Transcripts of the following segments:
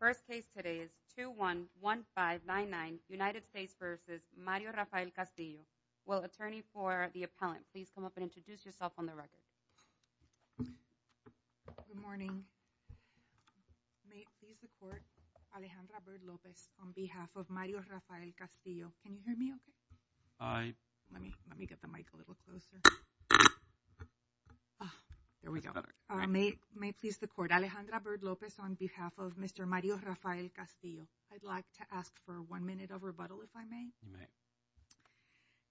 First case today is 2-1-1-5-9-9, United States v. Mario Rafael Castillo. Will attorney for the appellant please come up and introduce yourself on the record. Good morning. May it please the court, Alejandra Bird Lopez on behalf of Mario Rafael Castillo. Can you hear me okay? Hi. Let me get the mic a little closer. There we go. May it please the court, Alejandra Bird Lopez on behalf of Mr. Mario Rafael Castillo. I'd like to ask for one minute of rebuttal if I may. You may.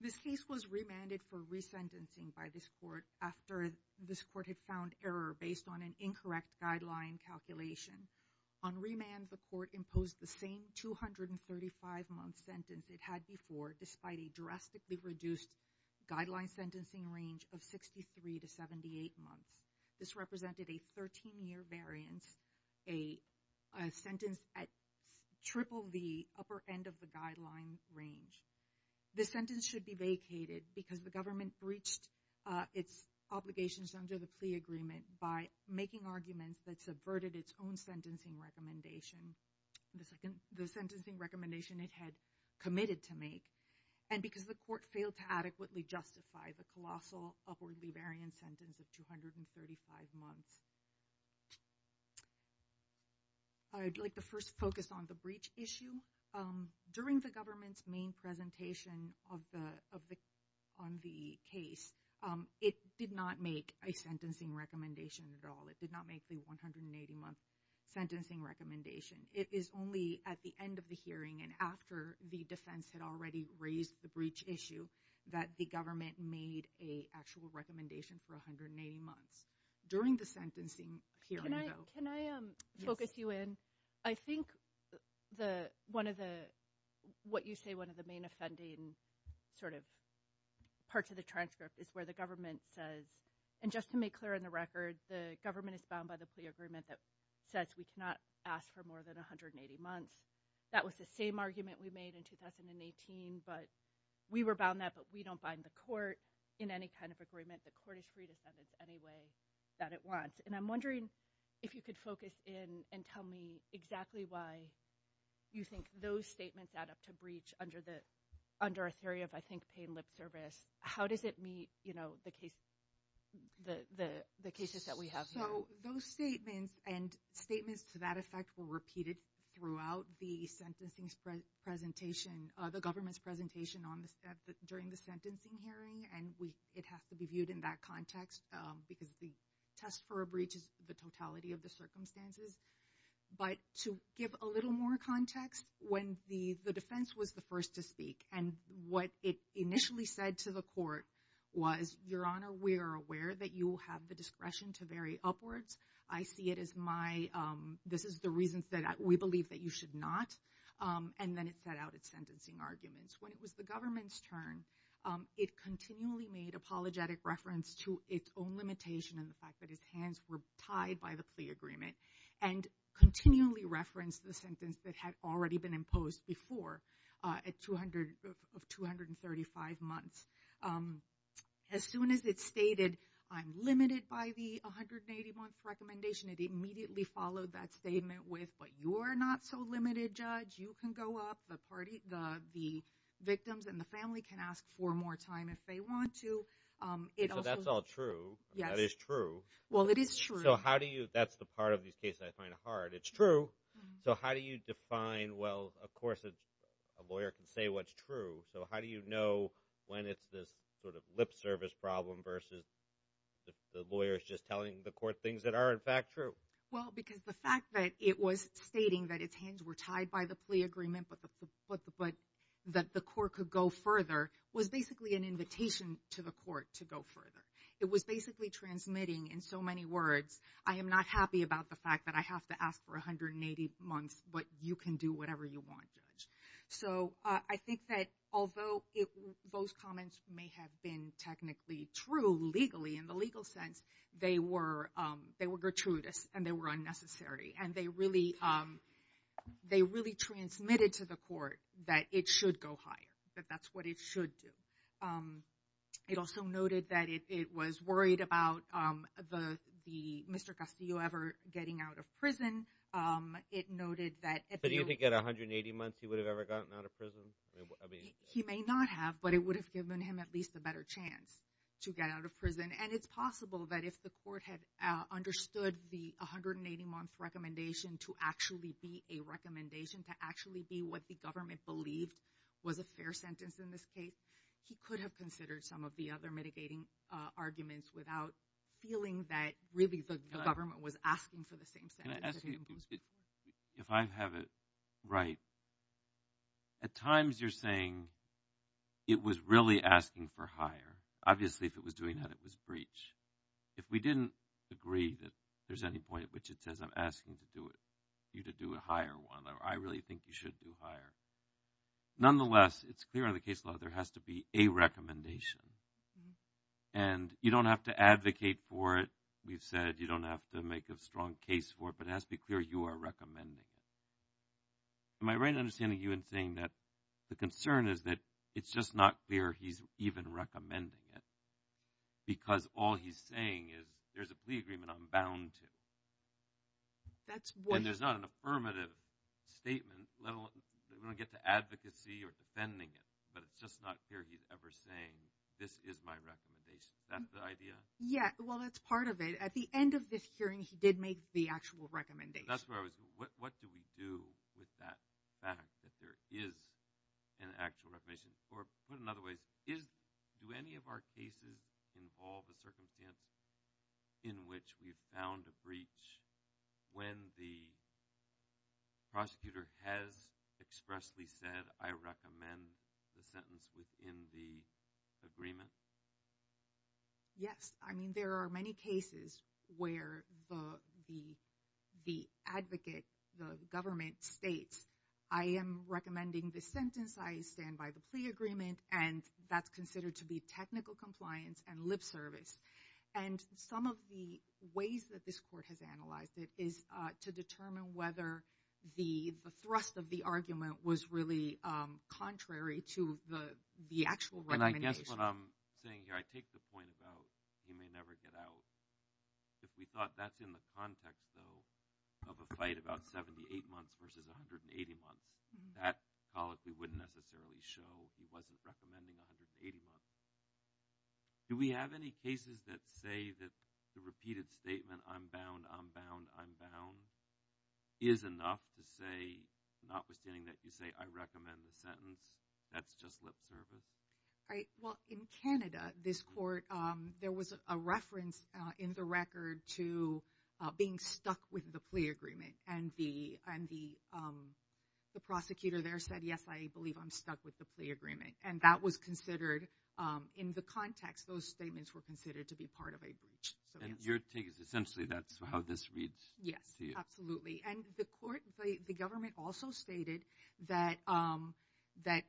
This case was remanded for resentencing by this court after this court had found error based on an incorrect guideline calculation. On remand, the court imposed the same 235-month sentence it had before, despite a drastically reduced guideline sentencing range of 63 to 78 months. This represented a 13-year variance, a sentence at triple the upper end of the guideline range. The sentence should be vacated because the government breached its obligations under the plea agreement by making arguments that subverted its own sentencing recommendation. The sentencing recommendation it had committed to make, and because the court failed to adequately justify the colossal upwardly variant sentence of 235 months. I'd like to first focus on the breach issue. During the government's main presentation on the case, it did not make a sentencing recommendation at all. It did not make the 180-month sentencing recommendation. It is only at the end of the hearing and after the defense had already raised the breach issue that the government made an actual recommendation for 180 months. During the sentencing hearing, though. Can I focus you in? I think one of the, what you say, one of the main offending parts of the transcript is where the government says, and just to make clear on the record, the government is bound by the plea agreement that says we cannot ask for more than 180 months. That was the same argument we made in 2018, but we were bound that, but we don't bind the court in any kind of agreement. The court is free to sentence any way that it wants. And I'm wondering if you could focus in and tell me exactly why you think those statements add up to breach under a theory of, I think, paying lip service. How does it meet the cases that we have here? Those statements and statements to that effect were repeated throughout the sentencing presentation, the government's presentation during the sentencing hearing, and it has to be viewed in that context, because the test for a breach is the totality of the circumstances. But to give a little more context, when the defense was the first to speak, and what it initially said to the court was, Your Honor, we are aware that you have the discretion to vary upwards. I see it as my, this is the reasons that we believe that you should not. And then it set out its sentencing arguments. When it was the government's turn, it continually made apologetic reference to its own limitation and the fact that its hands were tied by the plea agreement, and continually referenced the sentence that had already been imposed before, of 235 months. As soon as it stated, I'm limited by the 180-month recommendation, it immediately followed that statement with, But you are not so limited, Judge. You can go up. The victims and the family can ask for more time if they want to. So that's all true. Yes. That is true. Well, it is true. So how do you, that's the part of these cases I find hard. It's true. So how do you define, well, of course a lawyer can say what's true. So how do you know when it's this sort of lip service problem versus the lawyer's just telling the court things that are in fact true? Well, because the fact that it was stating that its hands were tied by the plea agreement, but that the court could go further, was basically an invitation to the court to go further. It was basically transmitting in so many words, I am not happy about the fact that I have to ask for 180 months, but you can do whatever you want, Judge. So I think that although those comments may have been technically true legally, in the legal sense, they were gratuitous and they were unnecessary. And they really transmitted to the court that it should go higher, that that's what it should do. It also noted that it was worried about Mr. Castillo ever getting out of prison. It noted that... But do you think at 180 months he would have ever gotten out of prison? He may not have, but it would have given him at least a better chance to get out of prison. And it's possible that if the court had understood the 180-month recommendation to actually be a recommendation, to actually be what the government believed was a fair sentence in this case, he could have considered some of the other mitigating arguments without feeling that really the government was asking for the same sentence. If I have it right, at times you're saying it was really asking for higher. Obviously if it was doing that, it was breach. If we didn't agree that there's any point at which it says I'm asking you to do a higher one, or I really think you should do higher, nonetheless it's clear in the case law there has to be a recommendation. And you don't have to advocate for it. We've said you don't have to make a strong case for it, but it has to be clear you are recommending it. Am I right in understanding you in saying that the concern is that it's just not clear he's even recommending it? Because all he's saying is there's a plea agreement I'm bound to. And there's not an affirmative statement, let alone get to advocacy or defending it, but it's just not clear he's ever saying this is my recommendation. Is that the idea? Yeah, well that's part of it. At the end of this hearing he did make the actual recommendation. That's where I was going, what do we do with that fact that there is an actual recommendation? Or put it another way, do any of our cases involve a circumstance in which we've found a breach when the prosecutor has expressly said I recommend the sentence within the agreement? Yes, I mean there are many cases where the advocate, the government, states I am recommending this sentence, I stand by the plea agreement, and that's considered to be technical compliance and lip service. And some of the ways that this court has analyzed it is to determine whether the thrust of the argument was really contrary to the actual recommendation. And I guess what I'm saying here, I take the point about he may never get out. If we thought that's in the context, though, of a fight about 78 months versus 180 months, that colloquy wouldn't necessarily show he wasn't recommending 180 months. Do we have any cases that say that the repeated statement, I'm bound, I'm bound, I'm bound, is enough to say, notwithstanding that you say I recommend the sentence, that's just lip service? Well, in Canada, this court, there was a reference in the record to being stuck with the plea agreement. And the prosecutor there said, yes, I believe I'm stuck with the plea agreement. And that was considered, in the context, those statements were considered to be part of a breach. And your take is essentially that's how this reads to you? Yes, absolutely. And the government also stated that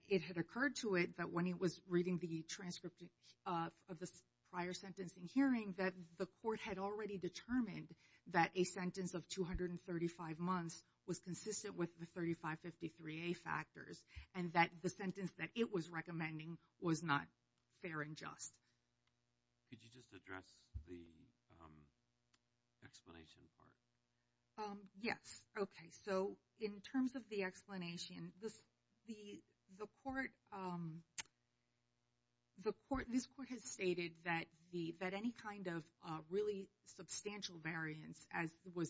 it had occurred to it that when it was reading the transcript of the prior sentencing hearing that the court had already determined that a sentence of 235 months was consistent with the 3553A factors, and that the sentence that it was recommending was not fair and just. Could you just address the explanation part? Yes, okay. So in terms of the explanation, the court, this court has stated that any kind of really substantial variance, as was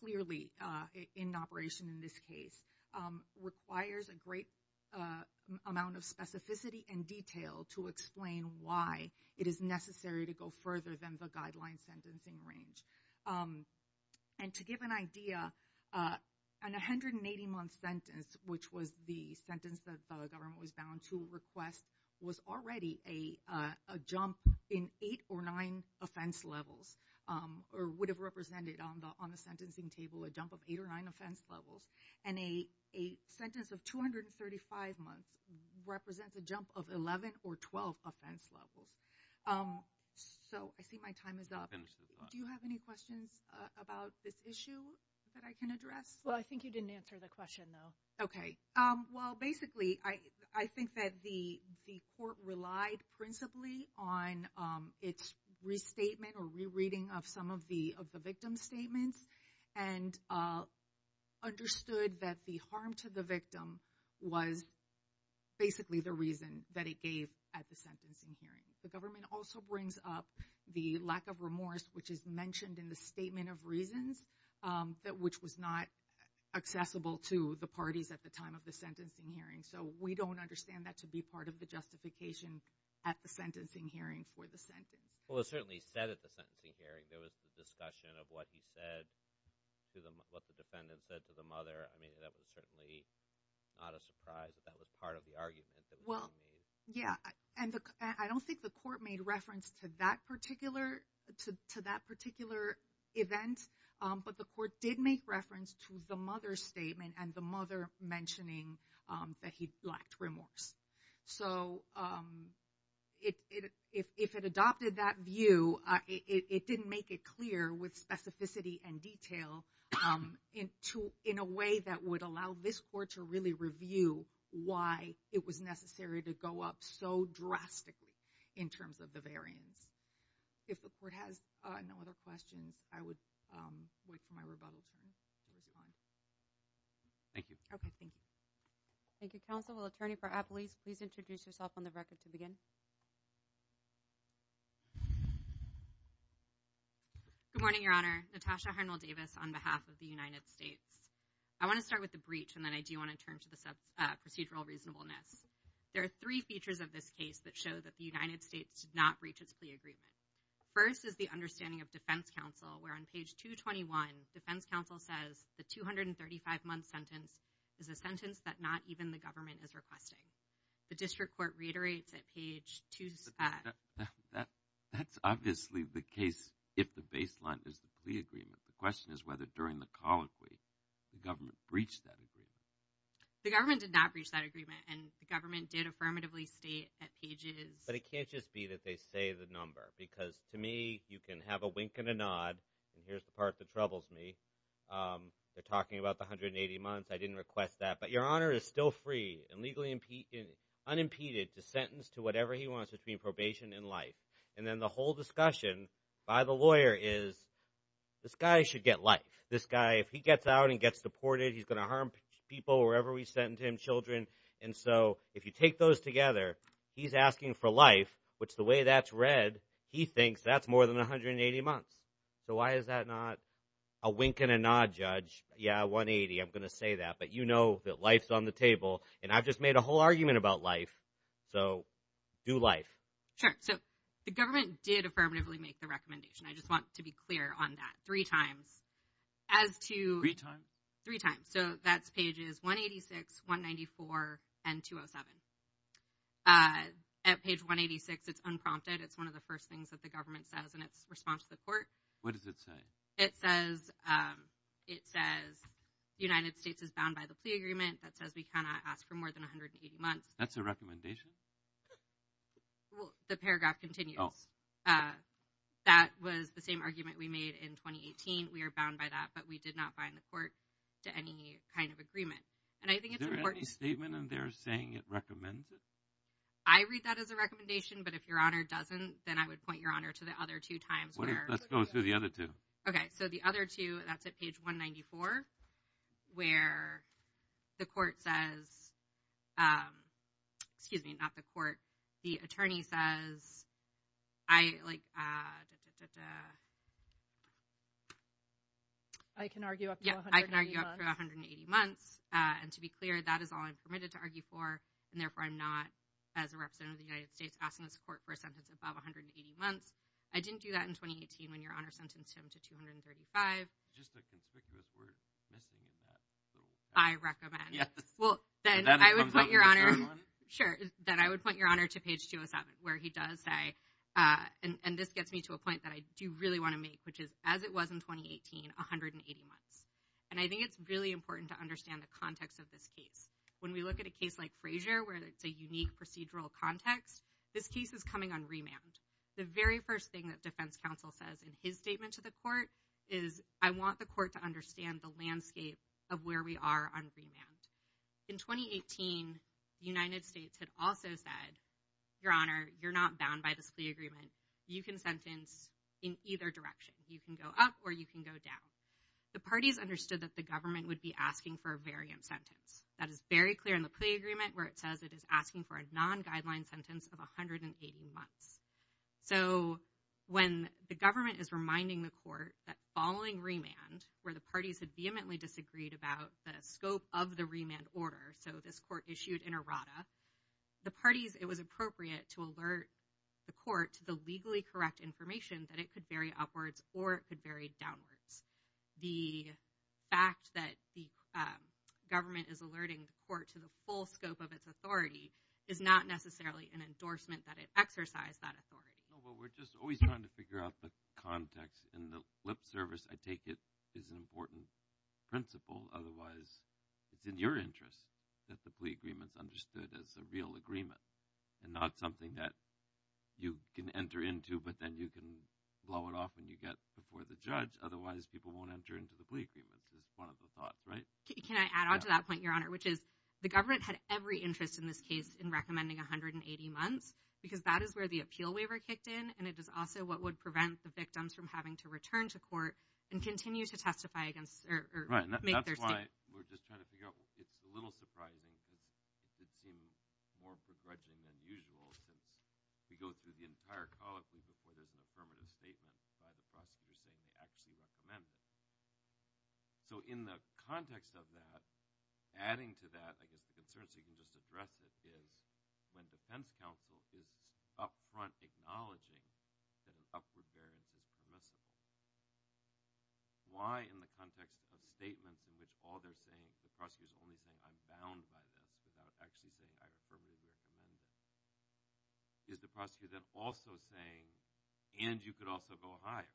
clearly in operation in this case, requires a great amount of specificity and detail to explain why it is necessary to go further than the guideline sentencing range. And to give an idea, an 180-month sentence, which was the sentence that the government was bound to request, was already a jump in eight or nine offense levels or would have represented on the sentencing table a jump of eight or nine offense levels. And a sentence of 235 months represents a jump of 11 or 12 offense levels. So I see my time is up. Do you have any questions about this issue that I can address? Well, I think you didn't answer the question, though. Okay. Well, basically, I think that the court relied principally on its restatement or rereading of some of the victim's statements and understood that the harm to the victim was basically the reason that it gave at the sentencing hearing. The government also brings up the lack of remorse, which is mentioned in the statement of reasons, which was not accessible to the parties at the time of the sentencing hearing. So we don't understand that to be part of the justification at the sentencing hearing for the sentence. Well, it was certainly said at the sentencing hearing. There was a discussion of what the defendant said to the mother. I mean, that was certainly not a surprise that that was part of the argument that was being made. Yeah, and I don't think the court made reference to that particular event, but the court did make reference to the mother's statement and the mother mentioning that he lacked remorse. So if it adopted that view, it didn't make it clear with specificity and detail in a way that would allow this court to really review why it was necessary to go up so drastically in terms of the variance. If the court has no other questions, I would wait for my rebuttal time to respond. Thank you. Okay, thank you. Thank you, counsel. Well, attorney for Appolese, please introduce yourself on the record to begin. Good morning, Your Honor. Natasha Harnell-Davis on behalf of the United States. I want to start with the breach, and then I do want to turn to the procedural reasonableness. There are three features of this case that show that the United States did not breach its plea agreement. First is the understanding of defense counsel, where on page 221, defense counsel says, the 235-month sentence is a sentence that not even the government is requesting. The district court reiterates at page 2— That's obviously the case if the baseline is the plea agreement. The question is whether during the colloquy the government breached that agreement. The government did not breach that agreement, and the government did affirmatively state at pages— But it can't just be that they say the number, because to me, you can have a wink and a nod, and here's the part that troubles me. They're talking about the 180 months. I didn't request that. But your honor is still free and unimpeded to sentence to whatever he wants between probation and life. And then the whole discussion by the lawyer is, this guy should get life. This guy, if he gets out and gets deported, he's going to harm people, wherever we send him, children. And so if you take those together, he's asking for life, which the way that's read, he thinks that's more than 180 months. So why is that not a wink and a nod, judge? Yeah, 180, I'm going to say that. But you know that life's on the table, and I've just made a whole argument about life. So do life. Sure. So the government did affirmatively make the recommendation. I just want to be clear on that. Three times. As to— Three times? Three times. So that's pages 186, 194, and 207. At page 186, it's unprompted. It's one of the first things that the government says in its response to the court. What does it say? It says the United States is bound by the plea agreement. That says we cannot ask for more than 180 months. That's a recommendation? Well, the paragraph continues. Oh. That was the same argument we made in 2018. We are bound by that, but we did not bind the court to any kind of agreement. And I think it's important— Is there any statement in there saying it recommends it? I read that as a recommendation, but if Your Honor doesn't, then I would point Your Honor to the other two times where— Let's go through the other two. Okay. So the other two, that's at page 194, where the court says—excuse me, not the court. The attorney says I, like— I can argue up to 180 months. Yeah, I can argue up to 180 months. And to be clear, that is all I'm permitted to argue for, and therefore I'm not, as a representative of the United States, asking this court for a sentence above 180 months. I didn't do that in 2018 when Your Honor sentenced him to 235. Just a conspicuous word missing in that. I recommend. Yes. Well, then I would point Your Honor— That comes up in the second one? Sure. Then I would point Your Honor to page 207, where he does say— and this gets me to a point that I do really want to make, which is, as it was in 2018, 180 months. And I think it's really important to understand the context of this case. When we look at a case like Frazier, where it's a unique procedural context, this case is coming on remand. The very first thing that defense counsel says in his statement to the court is, I want the court to understand the landscape of where we are on remand. In 2018, the United States had also said, Your Honor, you're not bound by this plea agreement. You can sentence in either direction. You can go up or you can go down. The parties understood that the government would be asking for a variant sentence. That is very clear in the plea agreement, where it says it is asking for a non-guideline sentence of 180 months. So when the government is reminding the court that following remand, where the parties had vehemently disagreed about the scope of the remand order, so this court issued an errata, the parties—it was appropriate to alert the court to the legally correct information that it could vary upwards or it could vary downwards. The fact that the government is alerting the court to the full scope of its authority is not necessarily an endorsement that it exercised that authority. No, but we're just always trying to figure out the context. And the lip service, I take it, is an important principle. Otherwise, it's in your interest that the plea agreement is understood as a real agreement and not something that you can enter into, but then you can blow it off when you get before the judge. Otherwise, people won't enter into the plea agreement. It's one of the thoughts, right? Can I add on to that point, Your Honor, which is the government had every interest in this case in recommending 180 months because that is where the appeal waiver kicked in, and it is also what would prevent the victims from having to return to court and continue to testify against— Right, and that's why we're just trying to figure out— it's a little surprising because it seems more begrudging than usual since we go through the entire colloquy before there's an affirmative statement by the prosecutor saying they actually recommend it. So in the context of that, adding to that, I guess the concern, so you can just address it, is when defense counsel is up front acknowledging that an upward variance is permissible, why in the context of statements in which all they're saying, the prosecutor's only saying I'm bound by this without actually saying I affirmably recommend it, is the prosecutor then also saying, and you could also go higher?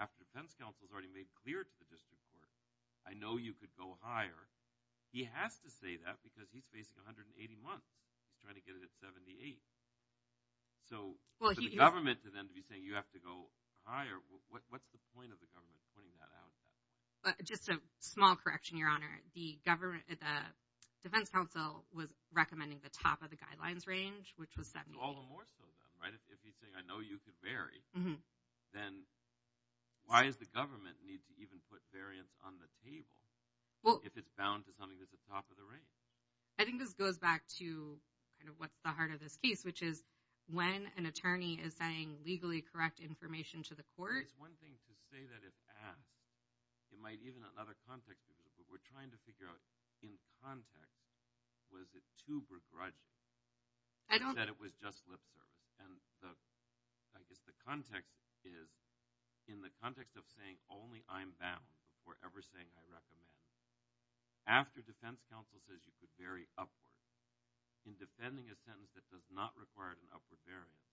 After defense counsel has already made clear to the district court, I know you could go higher. He has to say that because he's facing 180 months. He's trying to get it at 78. So for the government to then be saying you have to go higher, what's the point of the government pointing that out? Just a small correction, Your Honor. The defense counsel was recommending the top of the guidelines range, which was 78. All the more so then, right? If he's saying I know you could vary, then why does the government need to even put variance on the table if it's bound to something that's at the top of the range? I think this goes back to kind of what's the heart of this case, which is when an attorney is saying legally correct information to the court. It's one thing to say that it's asked. It might even have another context to it, but we're trying to figure out in context was it too begrudging that it was just lip service? And I guess the context is in the context of saying only I'm bound before ever saying I recommend. After defense counsel says you could vary upward, in defending a sentence that does not require an upward variance,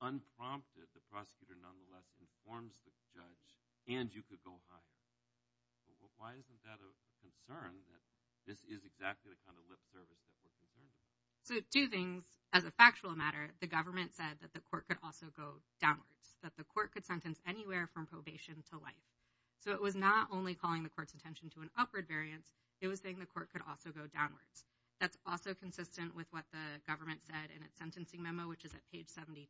unprompted the prosecutor nonetheless informs the judge, and you could go higher. Why isn't that a concern that this is exactly the kind of lip service that we're concerned with? So two things. As a factual matter, the government said that the court could also go downwards, that the court could sentence anywhere from probation to life. So it was not only calling the court's attention to an upward variance. It was saying the court could also go downwards. That's also consistent with what the government said in its sentencing memo, which is at page 72.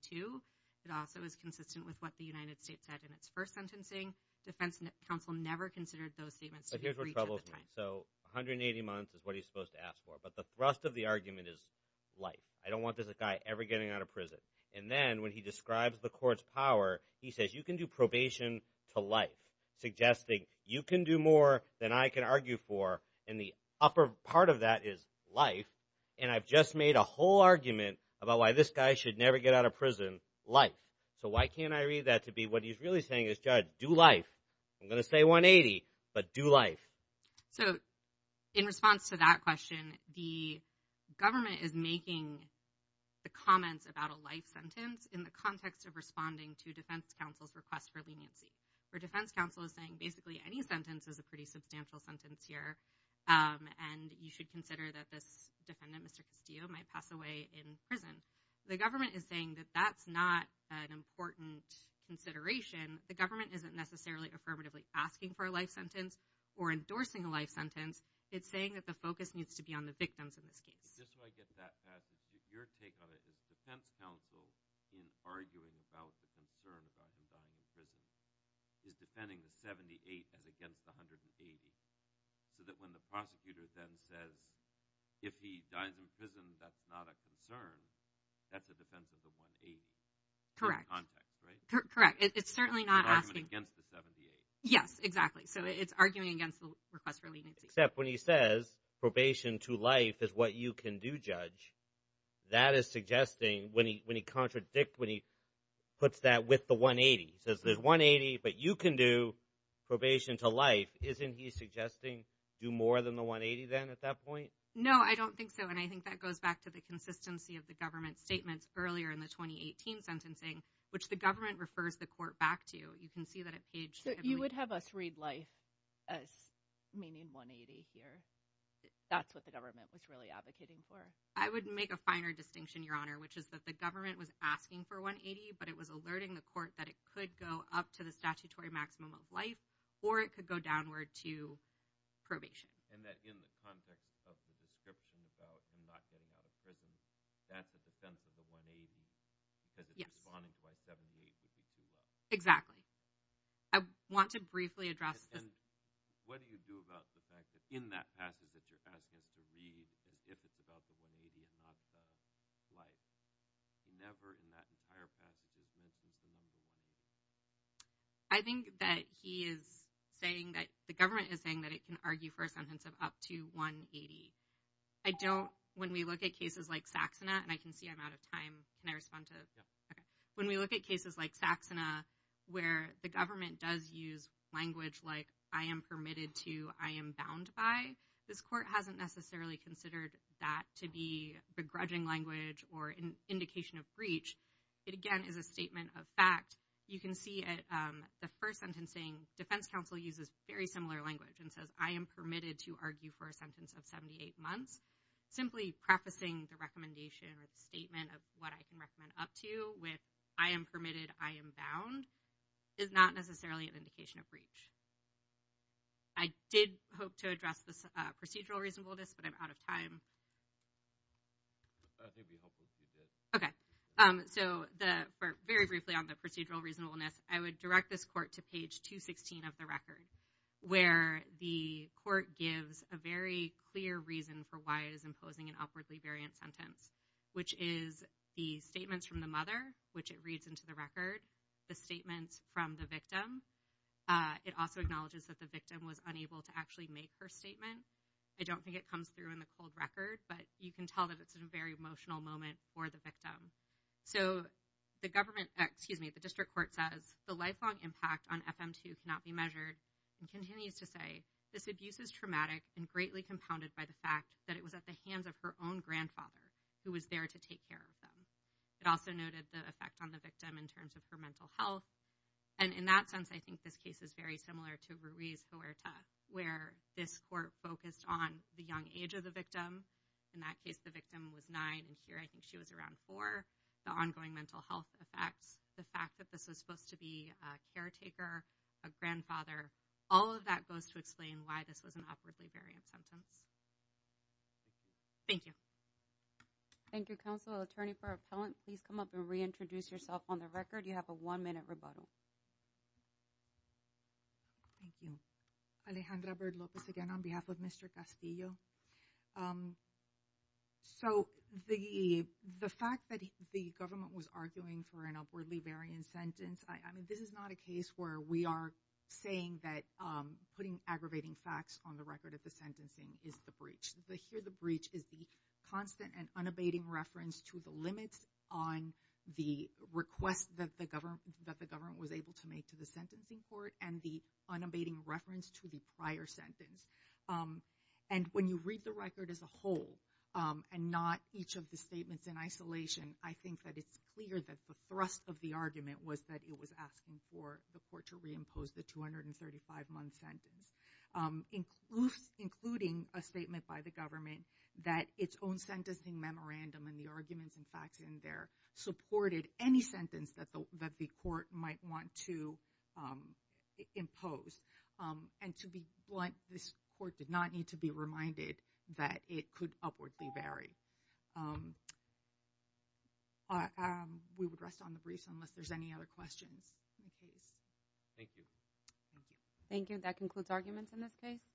It also is consistent with what the United States said in its first sentencing. Defense counsel never considered those statements. But here's what troubles me. So 180 months is what he's supposed to ask for, but the thrust of the argument is life. I don't want this guy ever getting out of prison. And then when he describes the court's power, he says, you can do probation to life, suggesting you can do more than I can argue for, and the upper part of that is life, and I've just made a whole argument about why this guy should never get out of prison, life. So why can't I read that to be what he's really saying is, judge, do life. I'm going to say 180, but do life. So in response to that question, the government is making the comments about a life sentence in the context of responding to defense counsel's request for leniency, where defense counsel is saying basically any sentence is a pretty substantial sentence here, and you should consider that this defendant, Mr. Castillo, might pass away in prison. The government is saying that that's not an important consideration. The government isn't necessarily affirmatively asking for a life sentence or endorsing a life sentence. It's saying that the focus needs to be on the victims in this case. Just so I get to that, Pat, your take on it is defense counsel, in arguing about the concern about him dying in prison, is defending the 78 as against the 180, so that when the prosecutor then says if he dies in prison, that's not a concern, that's a defense of the 180 in context, right? It's certainly not asking. It's an argument against the 78. Yes, exactly. So it's arguing against the request for leniency. Except when he says probation to life is what you can do, judge, that is suggesting when he puts that with the 180. He says there's 180, but you can do probation to life. Isn't he suggesting do more than the 180 then at that point? No, I don't think so. And I think that goes back to the consistency of the government's statements earlier in the 2018 sentencing, which the government refers the court back to. You can see that at page – So you would have us read life as meaning 180 here. That's what the government was really advocating for. I would make a finer distinction, Your Honor, which is that the government was asking for 180, but it was alerting the court that it could go up to the statutory maximum of life or it could go downward to probation. And that in the context of the description about him not getting out of prison, that's a defense of the 180 because it's responding to why 78 would be too rough. Exactly. I want to briefly address this. And what do you do about the fact that in that passage that you're asking us to read, if it's about the 180 and not the life, never in that entire passage is there a case of 180. I think that he is saying that – the government is saying that it can argue for a sentence of up to 180. I don't – when we look at cases like Saxena – and I can see I'm out of time. Can I respond to – Yeah. Okay. When we look at cases like Saxena where the government does use language like I am permitted to, I am bound by, this court hasn't necessarily considered that to be begrudging language or an indication of breach. It, again, is a statement of fact. You can see at the first sentencing, defense counsel uses very similar language and says, I am permitted to argue for a sentence of 78 months. Simply prefacing the recommendation or the statement of what I can recommend up to with I am permitted, I am bound, is not necessarily an indication of breach. I did hope to address this procedural reasonableness, but I'm out of time. It would be helpful if you did. Okay. So very briefly on the procedural reasonableness, I would direct this court to page 216 of the record where the court gives a very clear reason for why it is imposing an upwardly variant sentence, which is the statements from the mother, which it reads into the record, the statements from the victim. It also acknowledges that the victim was unable to actually make her statement. I don't think it comes through in the cold record, but you can tell that it's a very emotional moment for the victim. So the government, excuse me, the district court says, the lifelong impact on FM2 cannot be measured and continues to say, this abuse is traumatic and greatly compounded by the fact that it was at the hands of her own grandfather who was there to take care of them. It also noted the effect on the victim in terms of her mental health. And in that sense, I think this case is very similar to Ruiz-Cuerta, where this court focused on the young age of the victim. In that case, the victim was nine, and here I think she was around four. The ongoing mental health effects, the fact that this was supposed to be a caretaker, a grandfather, all of that goes to explain why this was an upwardly variant sentence. Thank you. Thank you, Counsel. Attorney for Appellant, please come up and reintroduce yourself on the record. You have a one-minute rebuttal. Thank you. Alejandra Bird Lopez again on behalf of Mr. Castillo. So the fact that the government was arguing for an upwardly variant sentence, I mean, this is not a case where we are saying that putting aggravating facts on the record of the sentencing is the breach. Here the breach is the constant and unabating reference to the limits on the request that the government was able to make to the sentencing court and the unabating reference to the prior sentence. And when you read the record as a whole and not each of the statements in isolation, I think that it's clear that the thrust of the argument was that it was asking for the court to reimpose the 235-month sentence, including a statement by the government that its own sentencing memorandum and the arguments and facts in there supported any sentence that the court might want to impose. And to be blunt, this court did not need to be reminded that it could upwardly vary. We would rest on the briefs unless there's any other questions. Thank you. Thank you. That concludes arguments in this case.